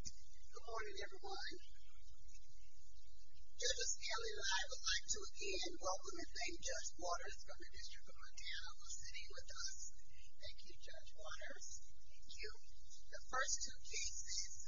Good morning everyone. This is Kelly and I would like to again welcome and thank Judge Waters from the District of Montana for sitting with us. Thank you, Judge Waters. Thank you. The first two cases,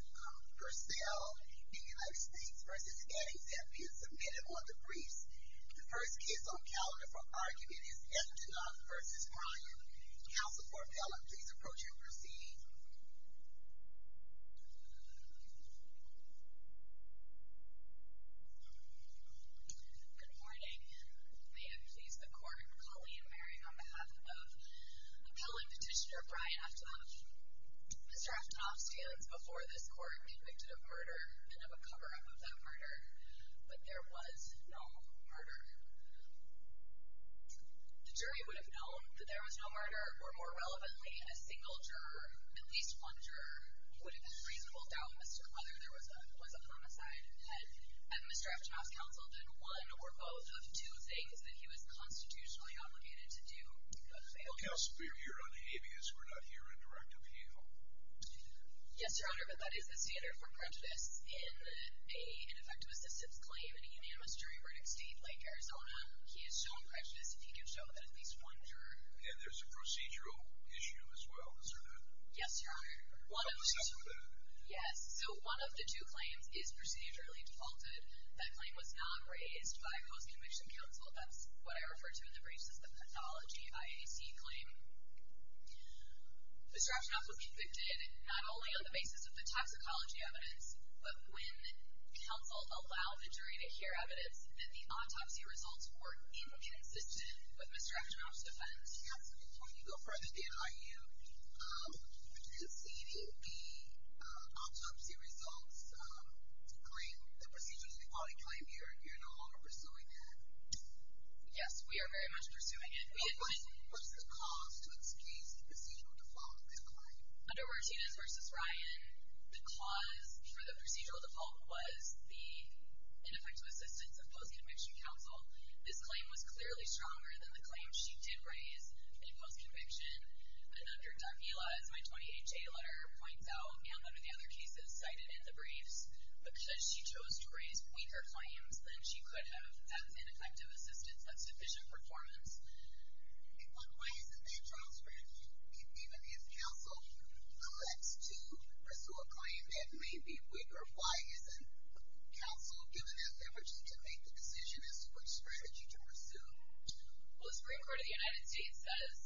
Purcell in the United States v. Gettysburg have been submitted on the briefs. The first case on calendar for argument is Eftenoff v. Ryan. Counsel for appellant, please approach and proceed. Good morning. May it please the court, I'm Colleen Merring on behalf of appellant petitioner Brian Eftenoff. Mr. Eftenoff stands before this court convicted of murder and of a cover-up of that murder, but there was no murder. The jury would have known that there was no murder, or more relevantly, a single juror, at least one juror, would have had reasonable doubt whether there was a homicide. And Mr. Eftenoff's counsel did one or both of two things that he was constitutionally obligated to do. Counsel, we are here on the avias. We're not here in direct appeal. Yes, Your Honor, but that is the standard for prejudice. In an effective assistance claim, in a unanimous jury verdict state like Arizona, he is shown prejudice if he can show that at least one juror. And there's a procedural issue as well, is there not? Yes, Your Honor. What's up with that? Yes, so one of the two claims is procedurally defaulted. That claim was not raised by post-conviction counsel. That's what I referred to in the briefs as the pathology IAC claim. Mr. Eftenoff was convicted not only on the basis of the toxicology evidence, but when counsel allowed the jury to hear evidence that the autopsy results were inexistent. But Mr. Eftenoff's defense? Yes, when you go for an ADIU, is the autopsy results to claim the procedurally defaulted claim, you're no longer pursuing it? Yes, we are very much pursuing it. What was the cause to excuse the procedural defaulted claim? Under Martinez v. Ryan, the cause for the procedural default was the ineffective assistance of post-conviction counsel. This claim was clearly stronger than the claim she did raise in post-conviction. And under Davila, as my 20HA letter points out, and under the other cases cited in the briefs, because she chose to raise weaker claims than she could have, that's ineffective assistance, that's deficient performance. And why isn't that transferred? Even if counsel collects to pursue a claim that may be weaker, why isn't counsel given an effort to make the decision as to which strategy to pursue? Well, the Supreme Court of the United States says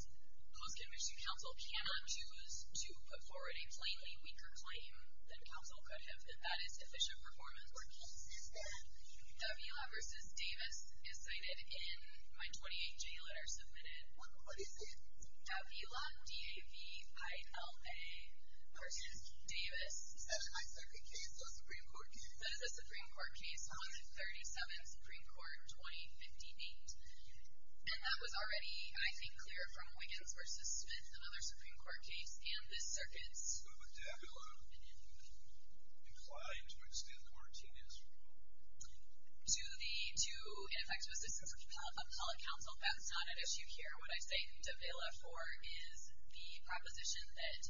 post-conviction counsel cannot choose to put forward a plainly weaker claim than counsel could have, and that is deficient performance. What case is that? Davila v. Davis is cited in my 20HA letter submitted. What is it? Davila, D-A-V-I-L-A, v. Davis. Is that in my second case, the Supreme Court case? That is the Supreme Court case, 137, Supreme Court, 2058. And that was already, I think, clear from Wiggins v. Smith, another Supreme Court case, and the circuits. Well, but Davila declined to extend quarantine as a rule. To the two ineffective assistance appellate counsel, that's not an issue here. What I say Davila for is the proposition that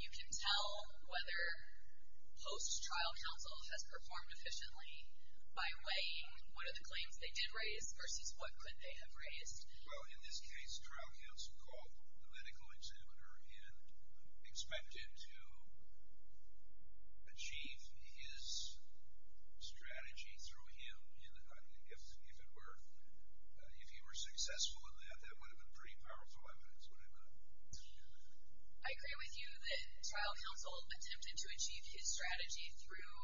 you can tell whether post-trial counsel has performed efficiently by weighing what are the claims they did raise versus what could they have raised. Well, in this case, trial counsel called the medical examiner and expected to achieve his strategy through him, and if it were, if he were successful in that, that would have been pretty powerful evidence, wouldn't it? I agree with you that trial counsel attempted to achieve his strategy through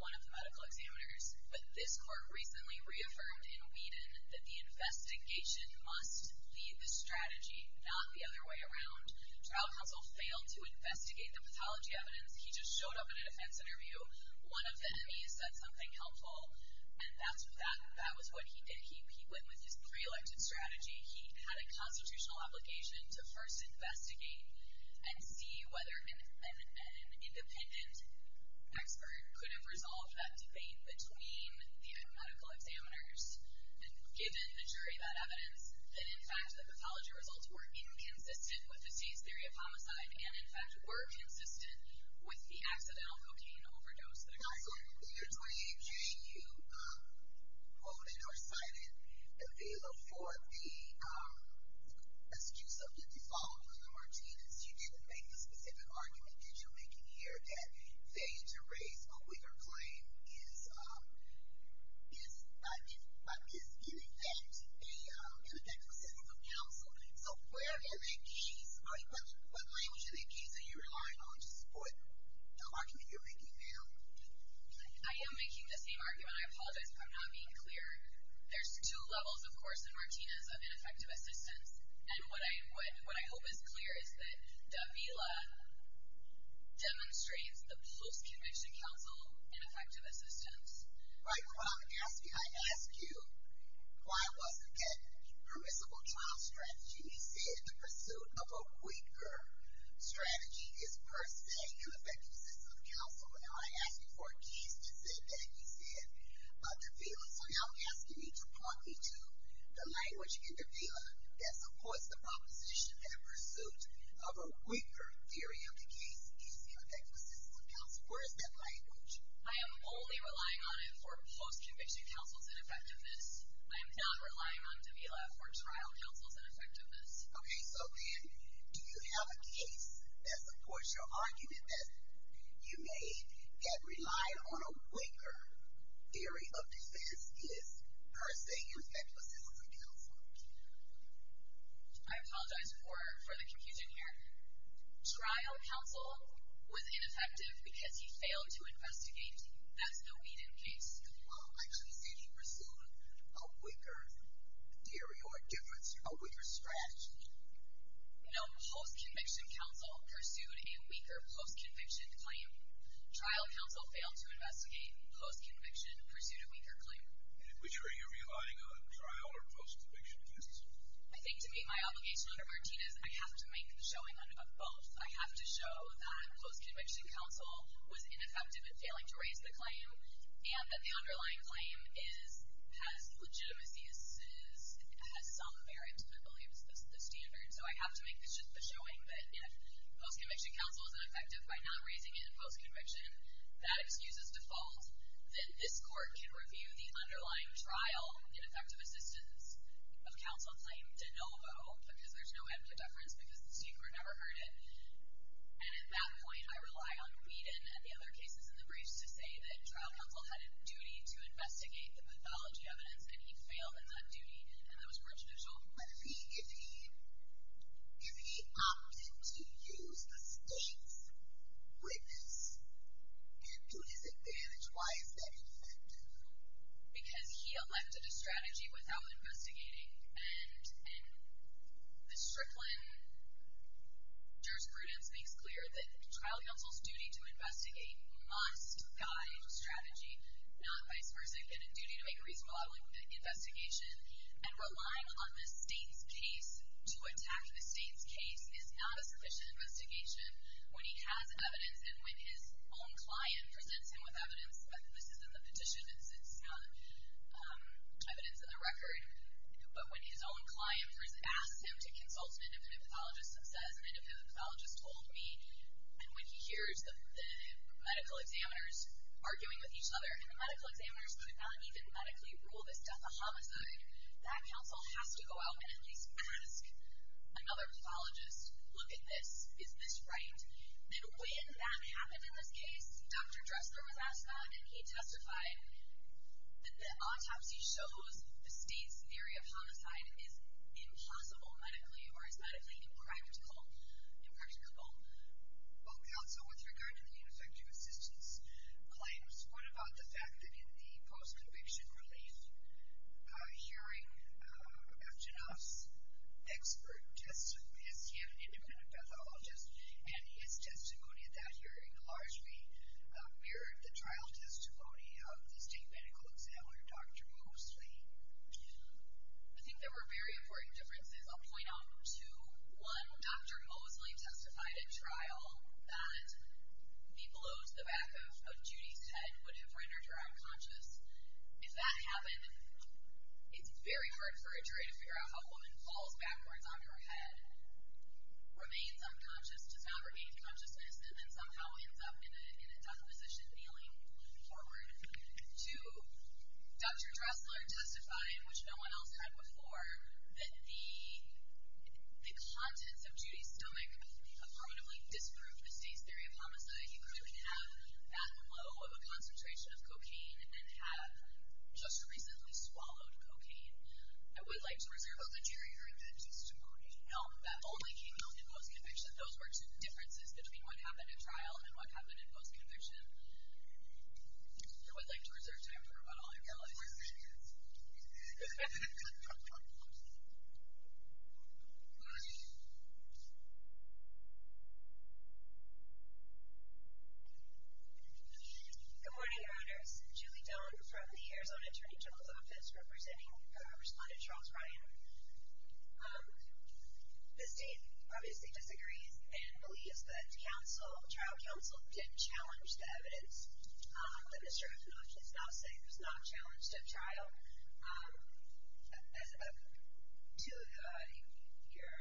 one of the medical examiners, but this court recently reaffirmed in Whedon that the investigation must be the strategy, not the other way around. Trial counsel failed to investigate the pathology evidence. He just showed up in a defense interview. One of the enemies said something helpful, and that was what he did. He went with his pre-elected strategy. He had a constitutional obligation to first investigate and see whether an independent expert could have resolved that debate between the medical examiners, and given the jury that evidence, that in fact the pathology results were inconsistent with the state's theory of homicide, and in fact were consistent with the accidental cocaine overdose that occurred. In your 28-J, you quoted or cited Davila for the excuse of the default on the Martinez. You didn't make the specific argument that you're making here that failure to raise a wager claim is, in effect, inconsistent with counsel. So where are the keys? What language are the keys that you're relying on to support the argument you're making now? I am making the same argument. I apologize for not being clear. There's two levels, of course, in Martinez of ineffective assistance, and what I hope is clear is that Davila demonstrates the post-conviction counsel ineffective assistance. Right. I asked you why I wasn't getting permissible trial strategy. You said the pursuit of a quicker strategy is, per se, ineffective assistance of counsel. And I asked you for keys to say that. You said Davila. Okay, so now I'm asking you to point me to the language in Davila that supports the proposition that a pursuit of a quicker theory of the case is ineffective assistance of counsel. Where is that language? I am only relying on it for post-conviction counsel's ineffectiveness. I am not relying on Davila for trial counsel's ineffectiveness. Okay, so then do you have a case that supports your argument that you may get relied on a quicker theory of the case is, per se, ineffective assistance of counsel? I apologize for the confusion here. Trial counsel was ineffective because he failed to investigate. That's the Whedon case. Well, actually, did he pursue a quicker theory or a quicker strategy? No, post-conviction counsel pursued a weaker post-conviction claim. Trial counsel failed to investigate. Post-conviction pursued a weaker claim. Which are you relying on, trial or post-conviction cases? I think to meet my obligation under Martinez, I have to make the showing of both. I have to show that post-conviction counsel was ineffective at failing to raise the claim and that the underlying claim has legitimacy, has some merit, I believe is the standard. So I have to make this just the showing that if post-conviction counsel is ineffective by not raising it in post-conviction, that excuse is default, then this court can review the underlying trial ineffective assistance of counsel claim de novo because there's no ambidextrous because the Supreme Court never heard it. And at that point, I rely on Whedon and the other cases in the briefs to say that trial counsel had a duty to investigate the pathology evidence and he failed in that duty and that was more judicial. But if he opted to use the state's witness and to his advantage, why is that effective? Because he elected a strategy without investigating and the Strickland jurisprudence makes clear that trial counsel's duty to investigate must guide strategy, not vice versa. They've been in duty to make a reasonable investigation. And relying on the state's case to attack the state's case is not a sufficient investigation when he has evidence and when his own client presents him with evidence. This is in the petition. It's not evidence in the record. But when his own client asks him to consult an independent pathologist and says, an independent pathologist told me, and when he hears the medical examiners arguing with each other and the medical examiners could not even medically rule this death a homicide, that counsel has to go out and at least ask another pathologist, look at this, is this right? And when that happened in this case, Dr. Drescher was asked that and he testified that the autopsy shows the state's theory of homicide is impossible medically or is medically impractical. Well, counsel, with regard to the ineffective assistance claims, what about the fact that in the post-conviction relief hearing, after enough expert testimony, he had an independent pathologist and his testimony at that hearing largely mirrored the trial testimony of the state medical examiner, Dr. Moosley? I think there were very important differences. I'll point out two. One, Dr. Moosley testified at trial that the blow to the back of Judy's head would have rendered her unconscious. If that happened, it's very hard for a jury to figure out how a woman falls backwards on her head, remains unconscious, does not regain consciousness, and then somehow ends up in a death position kneeling forward. Two, Dr. Dressler testified, which no one else had before, that the contents of Judy's stomach affirmatively disproved the state's theory of homicide. You couldn't have that low of a concentration of cocaine and have just recently swallowed cocaine. I would like to reserve a majority of that testimony. No, that only came out in post-conviction. Those were two differences between what happened at trial and what happened in post-conviction. I would like to reserve time for about all your other questions. Thank you. Good morning, Your Honors. Julie Doan from the Arizona Attorney General's Office, representing Respondent Charles Ryan. The state obviously disagrees and believes that trial counsel didn't challenge the evidence, but Mr. Epinoche is not saying it was not a challenge to a trial. As two of your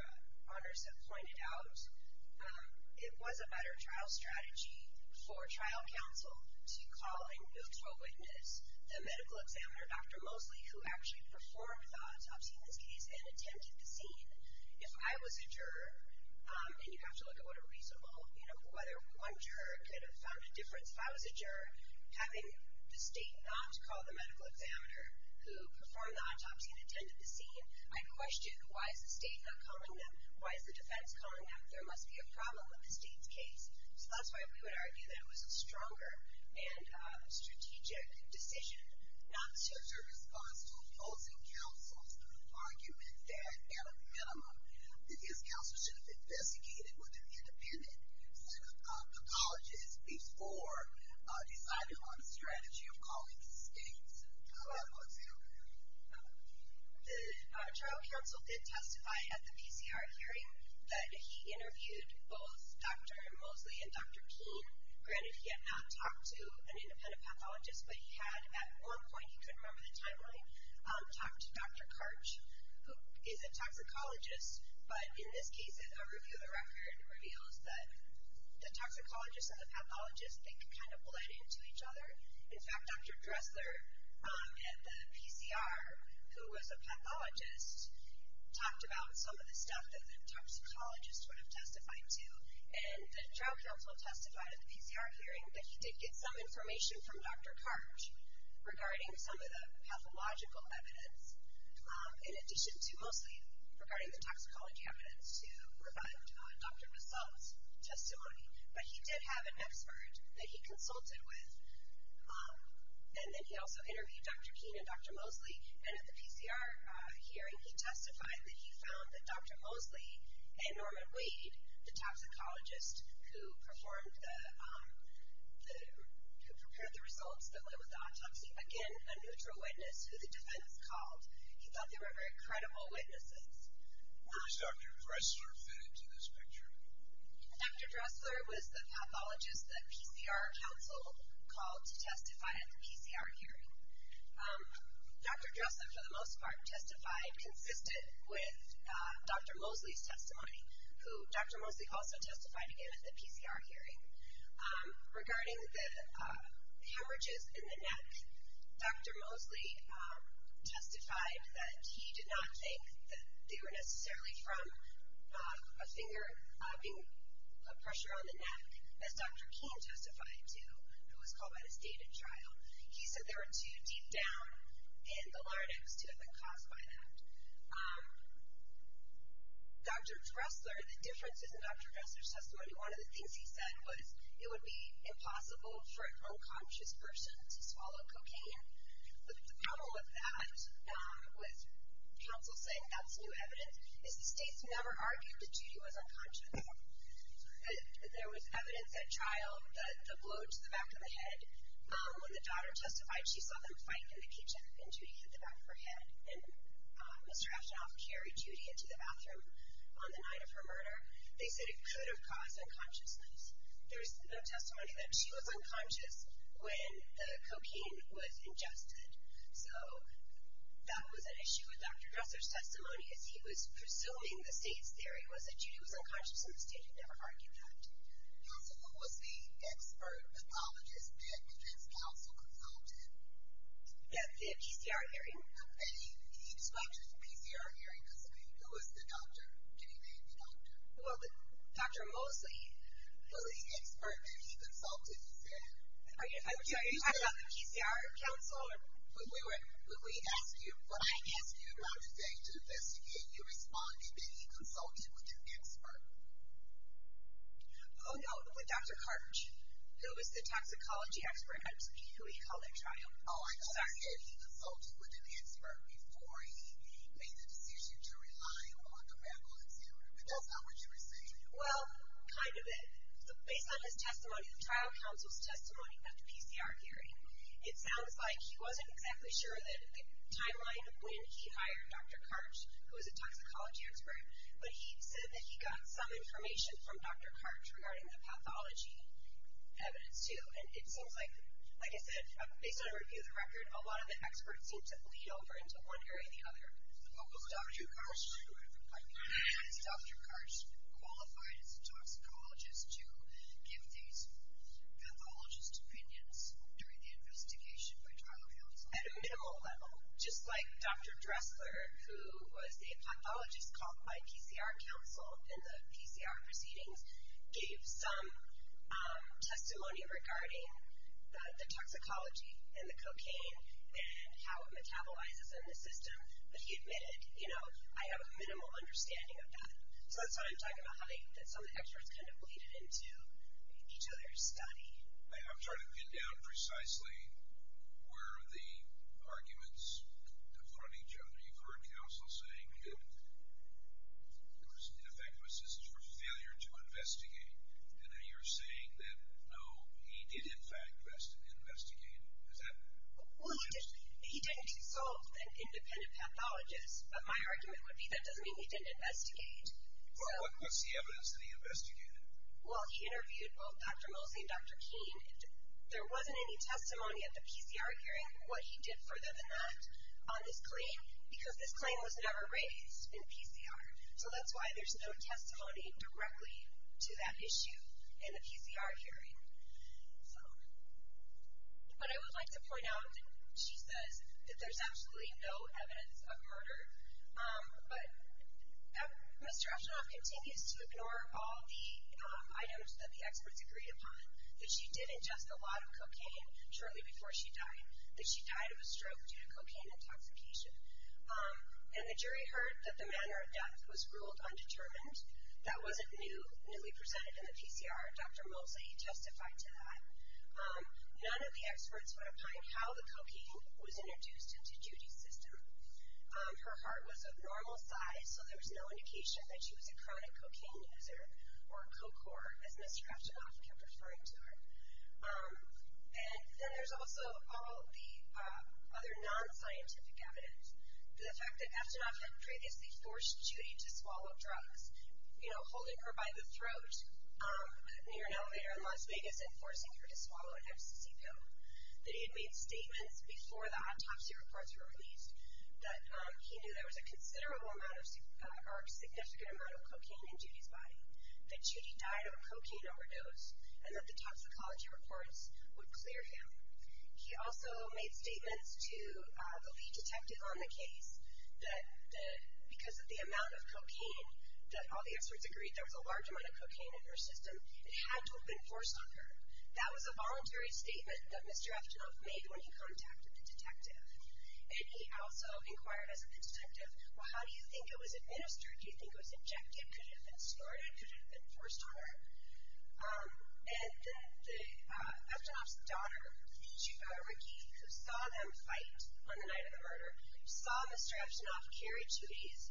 honors have pointed out, it was a better trial strategy for trial counsel to call in Booth's co-witness, the medical examiner, Dr. Mosley, who actually performed the autopsy in this case and attempted to see if I was a juror, and you have to look at what a reasonable, you know, whether one juror could have found a difference. If I was a juror, having the state not call the medical examiner who performed the autopsy and attended the scene, I question why is the state not calling them? Why is the defense calling them? There must be a problem with the state's case. So that's why we would argue that it was a stronger and strategic decision not to respond to a opposing counsel's argument that, at a minimum, that his counsel should have investigated with an independent pathologist before deciding on a strategy of calling the state's clinical examiner. The trial counsel did testify at the PCR hearing that he interviewed both Dr. Mosley and Dr. Keene. Granted, he had not talked to an independent pathologist, but he had at one point, he couldn't remember the timeline, talked to Dr. Karch, who is a toxicologist. But in this case, a review of the record reveals that the toxicologist and the pathologist think kind of blended into each other. In fact, Dr. Dressler at the PCR, who was a pathologist, talked about some of the stuff that the toxicologist would have testified to, and the trial counsel testified at the PCR hearing that he did get some information from Dr. Karch regarding some of the pathological evidence, in addition to mostly regarding the toxicology evidence to provide Dr. Dressler's testimony. But he did have an expert that he consulted with, and then he also interviewed Dr. Keene and Dr. Mosley. And at the PCR hearing, he testified that he found that Dr. Mosley and Norman Wade, the toxicologist who prepared the results that went with the autopsy, again, a neutral witness who the defense called. He thought they were very credible witnesses. Where was Dr. Dressler fit into this picture? Dr. Dressler was the pathologist that PCR counsel called to testify at the PCR hearing. Dr. Dressler, for the most part, testified consistent with Dr. Mosley's testimony, who Dr. Mosley also testified again at the PCR hearing. Regarding the hemorrhages in the neck, Dr. Mosley testified that he did not think that they were necessarily from a finger being put pressure on the neck, as Dr. Keene testified to, who was called by the state at trial. He said they were too deep down in the larynx to have been caused by that. Dr. Dressler, the differences in Dr. Dressler's testimony, one of the things he said was it would be impossible for an unconscious person to swallow cocaine. The problem with that, with counsel saying that's new evidence, is the states never argued that Judy was unconscious. There was evidence at trial that the blow to the back of the head, when the daughter testified, she saw them fight in the kitchen, and Judy hit the back of her head. And Mr. Ashtonoff carried Judy into the bathroom on the night of her murder. They said it could have caused unconsciousness. There was testimony that she was unconscious when the cocaine was ingested. So that was an issue with Dr. Dressler's testimony, as he was presuming the state's theory was that Judy was unconscious, and the state had never argued that. Also, who was the expert pathologist that the defense counsel consulted? The PCR hearing. He described it as a PCR hearing. Who was the doctor? Can you name the doctor? Well, Dr. Mosley. Well, the expert that he consulted, he said. Are you talking about the PCR counsel? When I asked you about today to investigate, you responded that he consulted with an expert. Oh, no, with Dr. Karch, who was the toxicology expert, who he called at trial. Oh, I'm sorry. He consulted with an expert before he made the decision to rely on a medical examiner. That's not what you were saying. Well, kind of it. Based on his testimony, the trial counsel's testimony at the PCR hearing, it sounds like he wasn't exactly sure of the timeline of when he hired Dr. Karch, who was a toxicology expert, but he said that he got some information from Dr. Karch regarding the pathology evidence, too. And it seems like, like I said, based on a review of the record, a lot of the experts seem to bleed over into one area or the other. Who was Dr. Karch? Was Dr. Karch qualified as a toxicologist to give these pathologist opinions during the investigation by trial counsel? At a minimal level, just like Dr. Dressler, who was a pathologist called by PCR counsel in the PCR proceedings, gave some testimony regarding the toxicology and the cocaine and how it metabolizes in the system, but he admitted, you know, I have a minimal understanding of that. So that's what I'm talking about, how some of the experts kind of bleeded into each other's study. I'm trying to get down precisely where the arguments come from each other. You've heard counsel saying that there was ineffective assistance for failure to investigate, and now you're saying that, no, he did, in fact, investigate. Is that what you're saying? Well, he didn't dissolve the independent pathologist, but my argument would be that doesn't mean he didn't investigate. Well, what's the evidence that he investigated? Well, he interviewed both Dr. Mosey and Dr. King. There wasn't any testimony at the PCR hearing, what he did further than that, on this claim, because this claim was never raised in PCR. So that's why there's no testimony directly to that issue in the PCR hearing. So what I would like to point out, she says that there's absolutely no evidence of murder, but Mr. Ashdorff continues to ignore all the items that the experts agreed upon, that she did ingest a lot of cocaine shortly before she died, that she died of a stroke due to cocaine intoxication. And the jury heard that the manner of death was ruled undetermined, that wasn't newly presented in the PCR. Dr. Mosey testified to that. None of the experts went upon how the cocaine was introduced into Judy's system. Her heart was of normal size, so there was no indication that she was a chronic cocaine user or a co-core, as Mr. Ashdorff kept referring to her. And then there's also all the other non-scientific evidence. The fact that Ashdorff had previously forced Judy to swallow drugs, you know, holding her by the throat near an elevator in Las Vegas and forcing her to swallow an Epstein pill, that he had made statements before the autopsy reports were released that he knew there was a considerable amount of, or a significant amount of cocaine in Judy's body, that Judy died of a cocaine overdose, and that the toxicology reports would clear him. He also made statements to the lead detective on the case that because of the amount of cocaine that all the experts agreed, there was a large amount of cocaine in her system, it had to have been forced on her. That was a voluntary statement that Mr. Ashdorff made when he contacted the detective. And he also inquired as the detective, well, how do you think it was administered? Do you think it was injected? Could it have been started? Could it have been forced on her? And then Ashdorff's daughter, Ricky, who saw them fight on the night of the murder, saw Mr. Ashdorff carry Judy's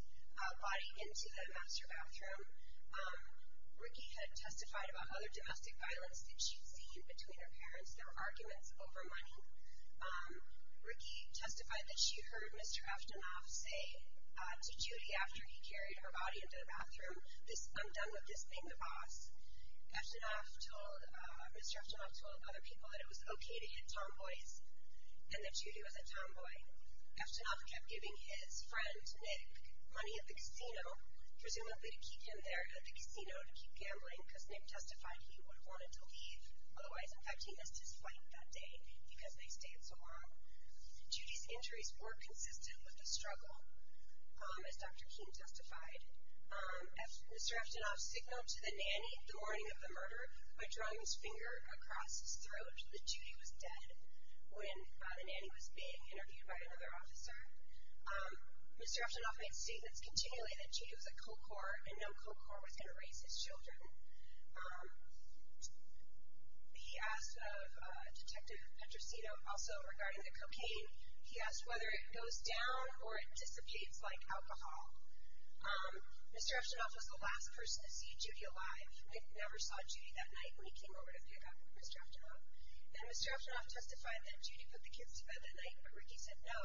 body into the master bathroom. Ricky had testified about other domestic violence that she'd seen between her parents. There were arguments over money. Ricky testified that she heard Mr. Ashdorff say to Judy after he carried her body into the bathroom, I'm done with this thing, the boss. Mr. Ashdorff told other people that it was okay to hit tomboys and that Judy was a tomboy. Ashdorff kept giving his friend Nick money at the casino, presumably to keep him there at the casino to keep gambling, because Nick testified he would have wanted to leave. Otherwise, in fact, he missed his flight that day because they stayed so long. Judy's injuries were consistent with the struggle, as Dr. King testified. As Mr. Ashdorff signaled to the nanny the morning of the murder by drawing his finger across his throat that Judy was dead when the nanny was being interviewed by another officer, Mr. Ashdorff made statements continually that Judy was a co-corps and no co-corps was going to raise his children. He asked Detective Petrosino, also regarding the cocaine, he asked whether it goes down or it dissipates like alcohol. Mr. Ashdorff was the last person to see Judy alive. Nick never saw Judy that night when he came over to pick up Mr. Ashdorff. Then Mr. Ashdorff testified that Judy put the kids to bed that night, but Ricky said no,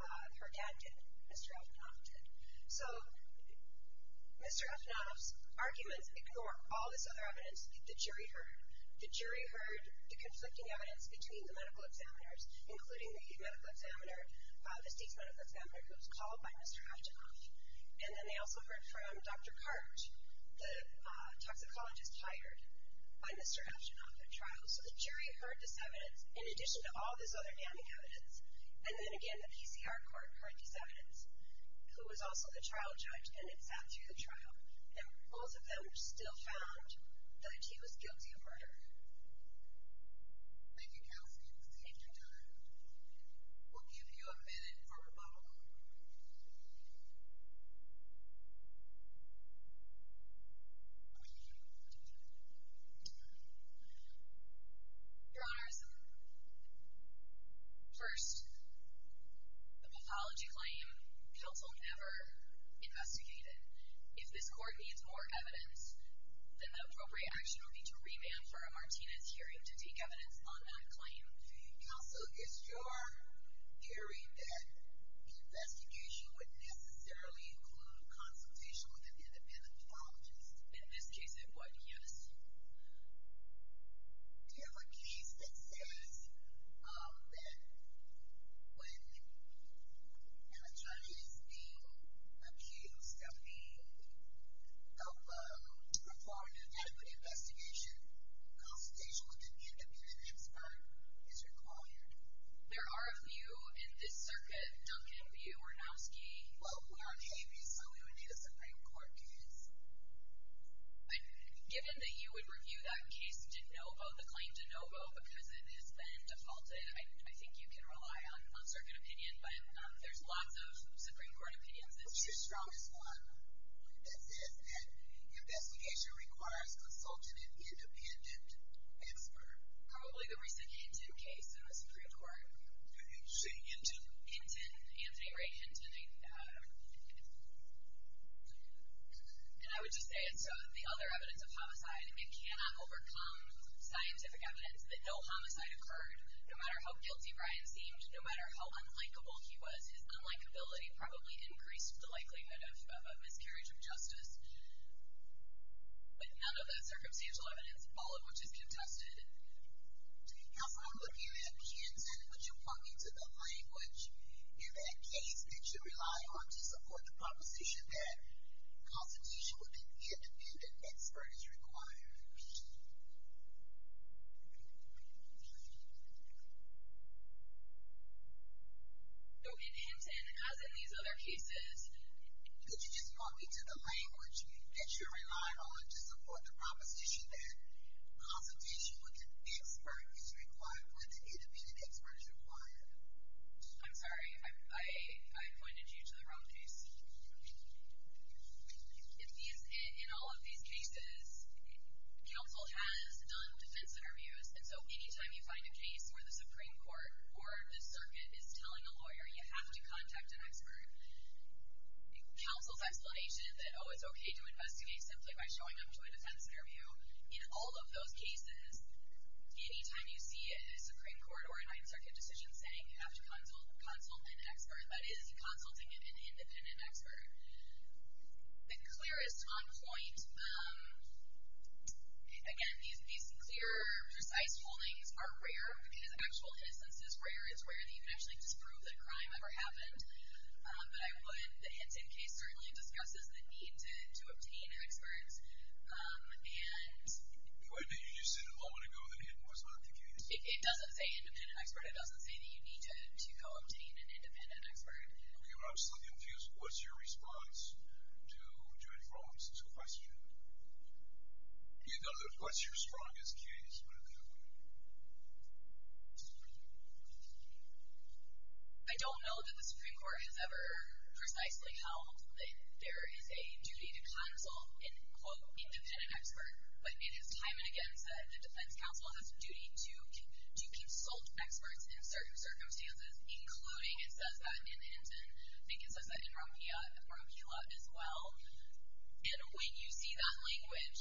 her dad did, Mr. Ashdorff did. So Mr. Ashdorff's arguments ignore all this other evidence the jury heard. The jury heard the conflicting evidence between the medical examiners, including the medical examiner, the state's medical examiner, who was called by Mr. Ashdorff. And then they also heard from Dr. Karch, the toxicologist hired by Mr. Ashdorff at trial. So the jury heard this evidence in addition to all this other damning evidence, and then again the PCR court heard this evidence, who was also the trial judge, and then sat through the trial. And both of them still found that he was guilty of murder. Thank you, Kelsey. You've saved your time. We'll give you a minute for rebuttal. Your Honors, first, the pathology claim counsel never investigated. If this court needs more evidence, then the appropriate action would be to remand for a Martinez hearing to take evidence on that claim. Counsel, is your theory that the investigation would necessarily include consultation with an independent pathologist? In this case it would, yes. Do you have a case that says that when a judge is being accused of being, of performing an equity investigation, consultation with an independent expert is required? There are a few in this circuit, Duncan, View, Ornowski. Well, we're on Habeas, so we would need a Supreme Court case. Given that you would review that case de novo, the claim de novo, because it has been defaulted, I think you can rely on circuit opinion, but there's lots of Supreme Court opinions. What's your strongest one that says that investigation requires consulting an independent expert? Probably the recent Hinton case in the Supreme Court. Hinton? Hinton, Anthony Ray Hinton. And I would just say it's the other evidence of homicide. It cannot overcome scientific evidence that no homicide occurred. No matter how guilty Brian seemed, no matter how unlikable he was, his unlikability probably increased the likelihood of a miscarriage of justice. But none of the circumstantial evidence, all of which is contested. Counsel, I'm looking at Hinton. Hinton, would you point me to the language in that case that you rely on to support the proposition that consultation with an independent expert is required? Okay, Hinton, as in these other cases. Could you just point me to the language that you rely on to support the proposition that I'm sorry. I pointed you to the wrong piece. In all of these cases, counsel has done defense interviews, and so any time you find a case where the Supreme Court or the circuit is telling a lawyer you have to contact an expert, counsel's explanation is that, oh, it's okay to investigate simply by showing up to a defense interview. In all of those cases, any time you see a Supreme Court or a Ninth Circuit decision saying you have to consult an expert, that is consulting an independent expert. The clearest on point, again, these clear, precise holdings are rare, because actual innocence is rare. It's rare that you can actually disprove that a crime ever happened. But I would, the Hinton case certainly discusses the need to obtain an expert. And... Wait a minute. You just said a moment ago that Hinton was not the case. It doesn't say independent expert. It doesn't say that you need to go obtain an independent expert. Okay, well, I'm slightly confused. What's your response to any problems with the question? What's your strongest case? I don't know that the Supreme Court has ever precisely held that there is a duty to counsel an, quote, independent expert. But it is time and again said the defense counsel has a duty to consult experts in certain circumstances, including it says that in Hinton. I think it says that in Ramila as well. And when you see that language,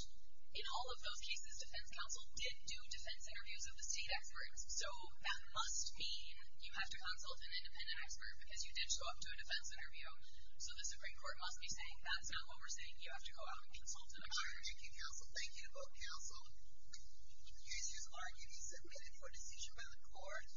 in all of those cases, defense counsel did do defense interviews of the state experts. So that must mean you have to consult an independent expert because you did show up to a defense interview. So the Supreme Court must be saying that's not what we're saying. You have to go out and consult an expert. Thank you, counsel. Thank you both, counsel. These issues are to be submitted for decision by the court.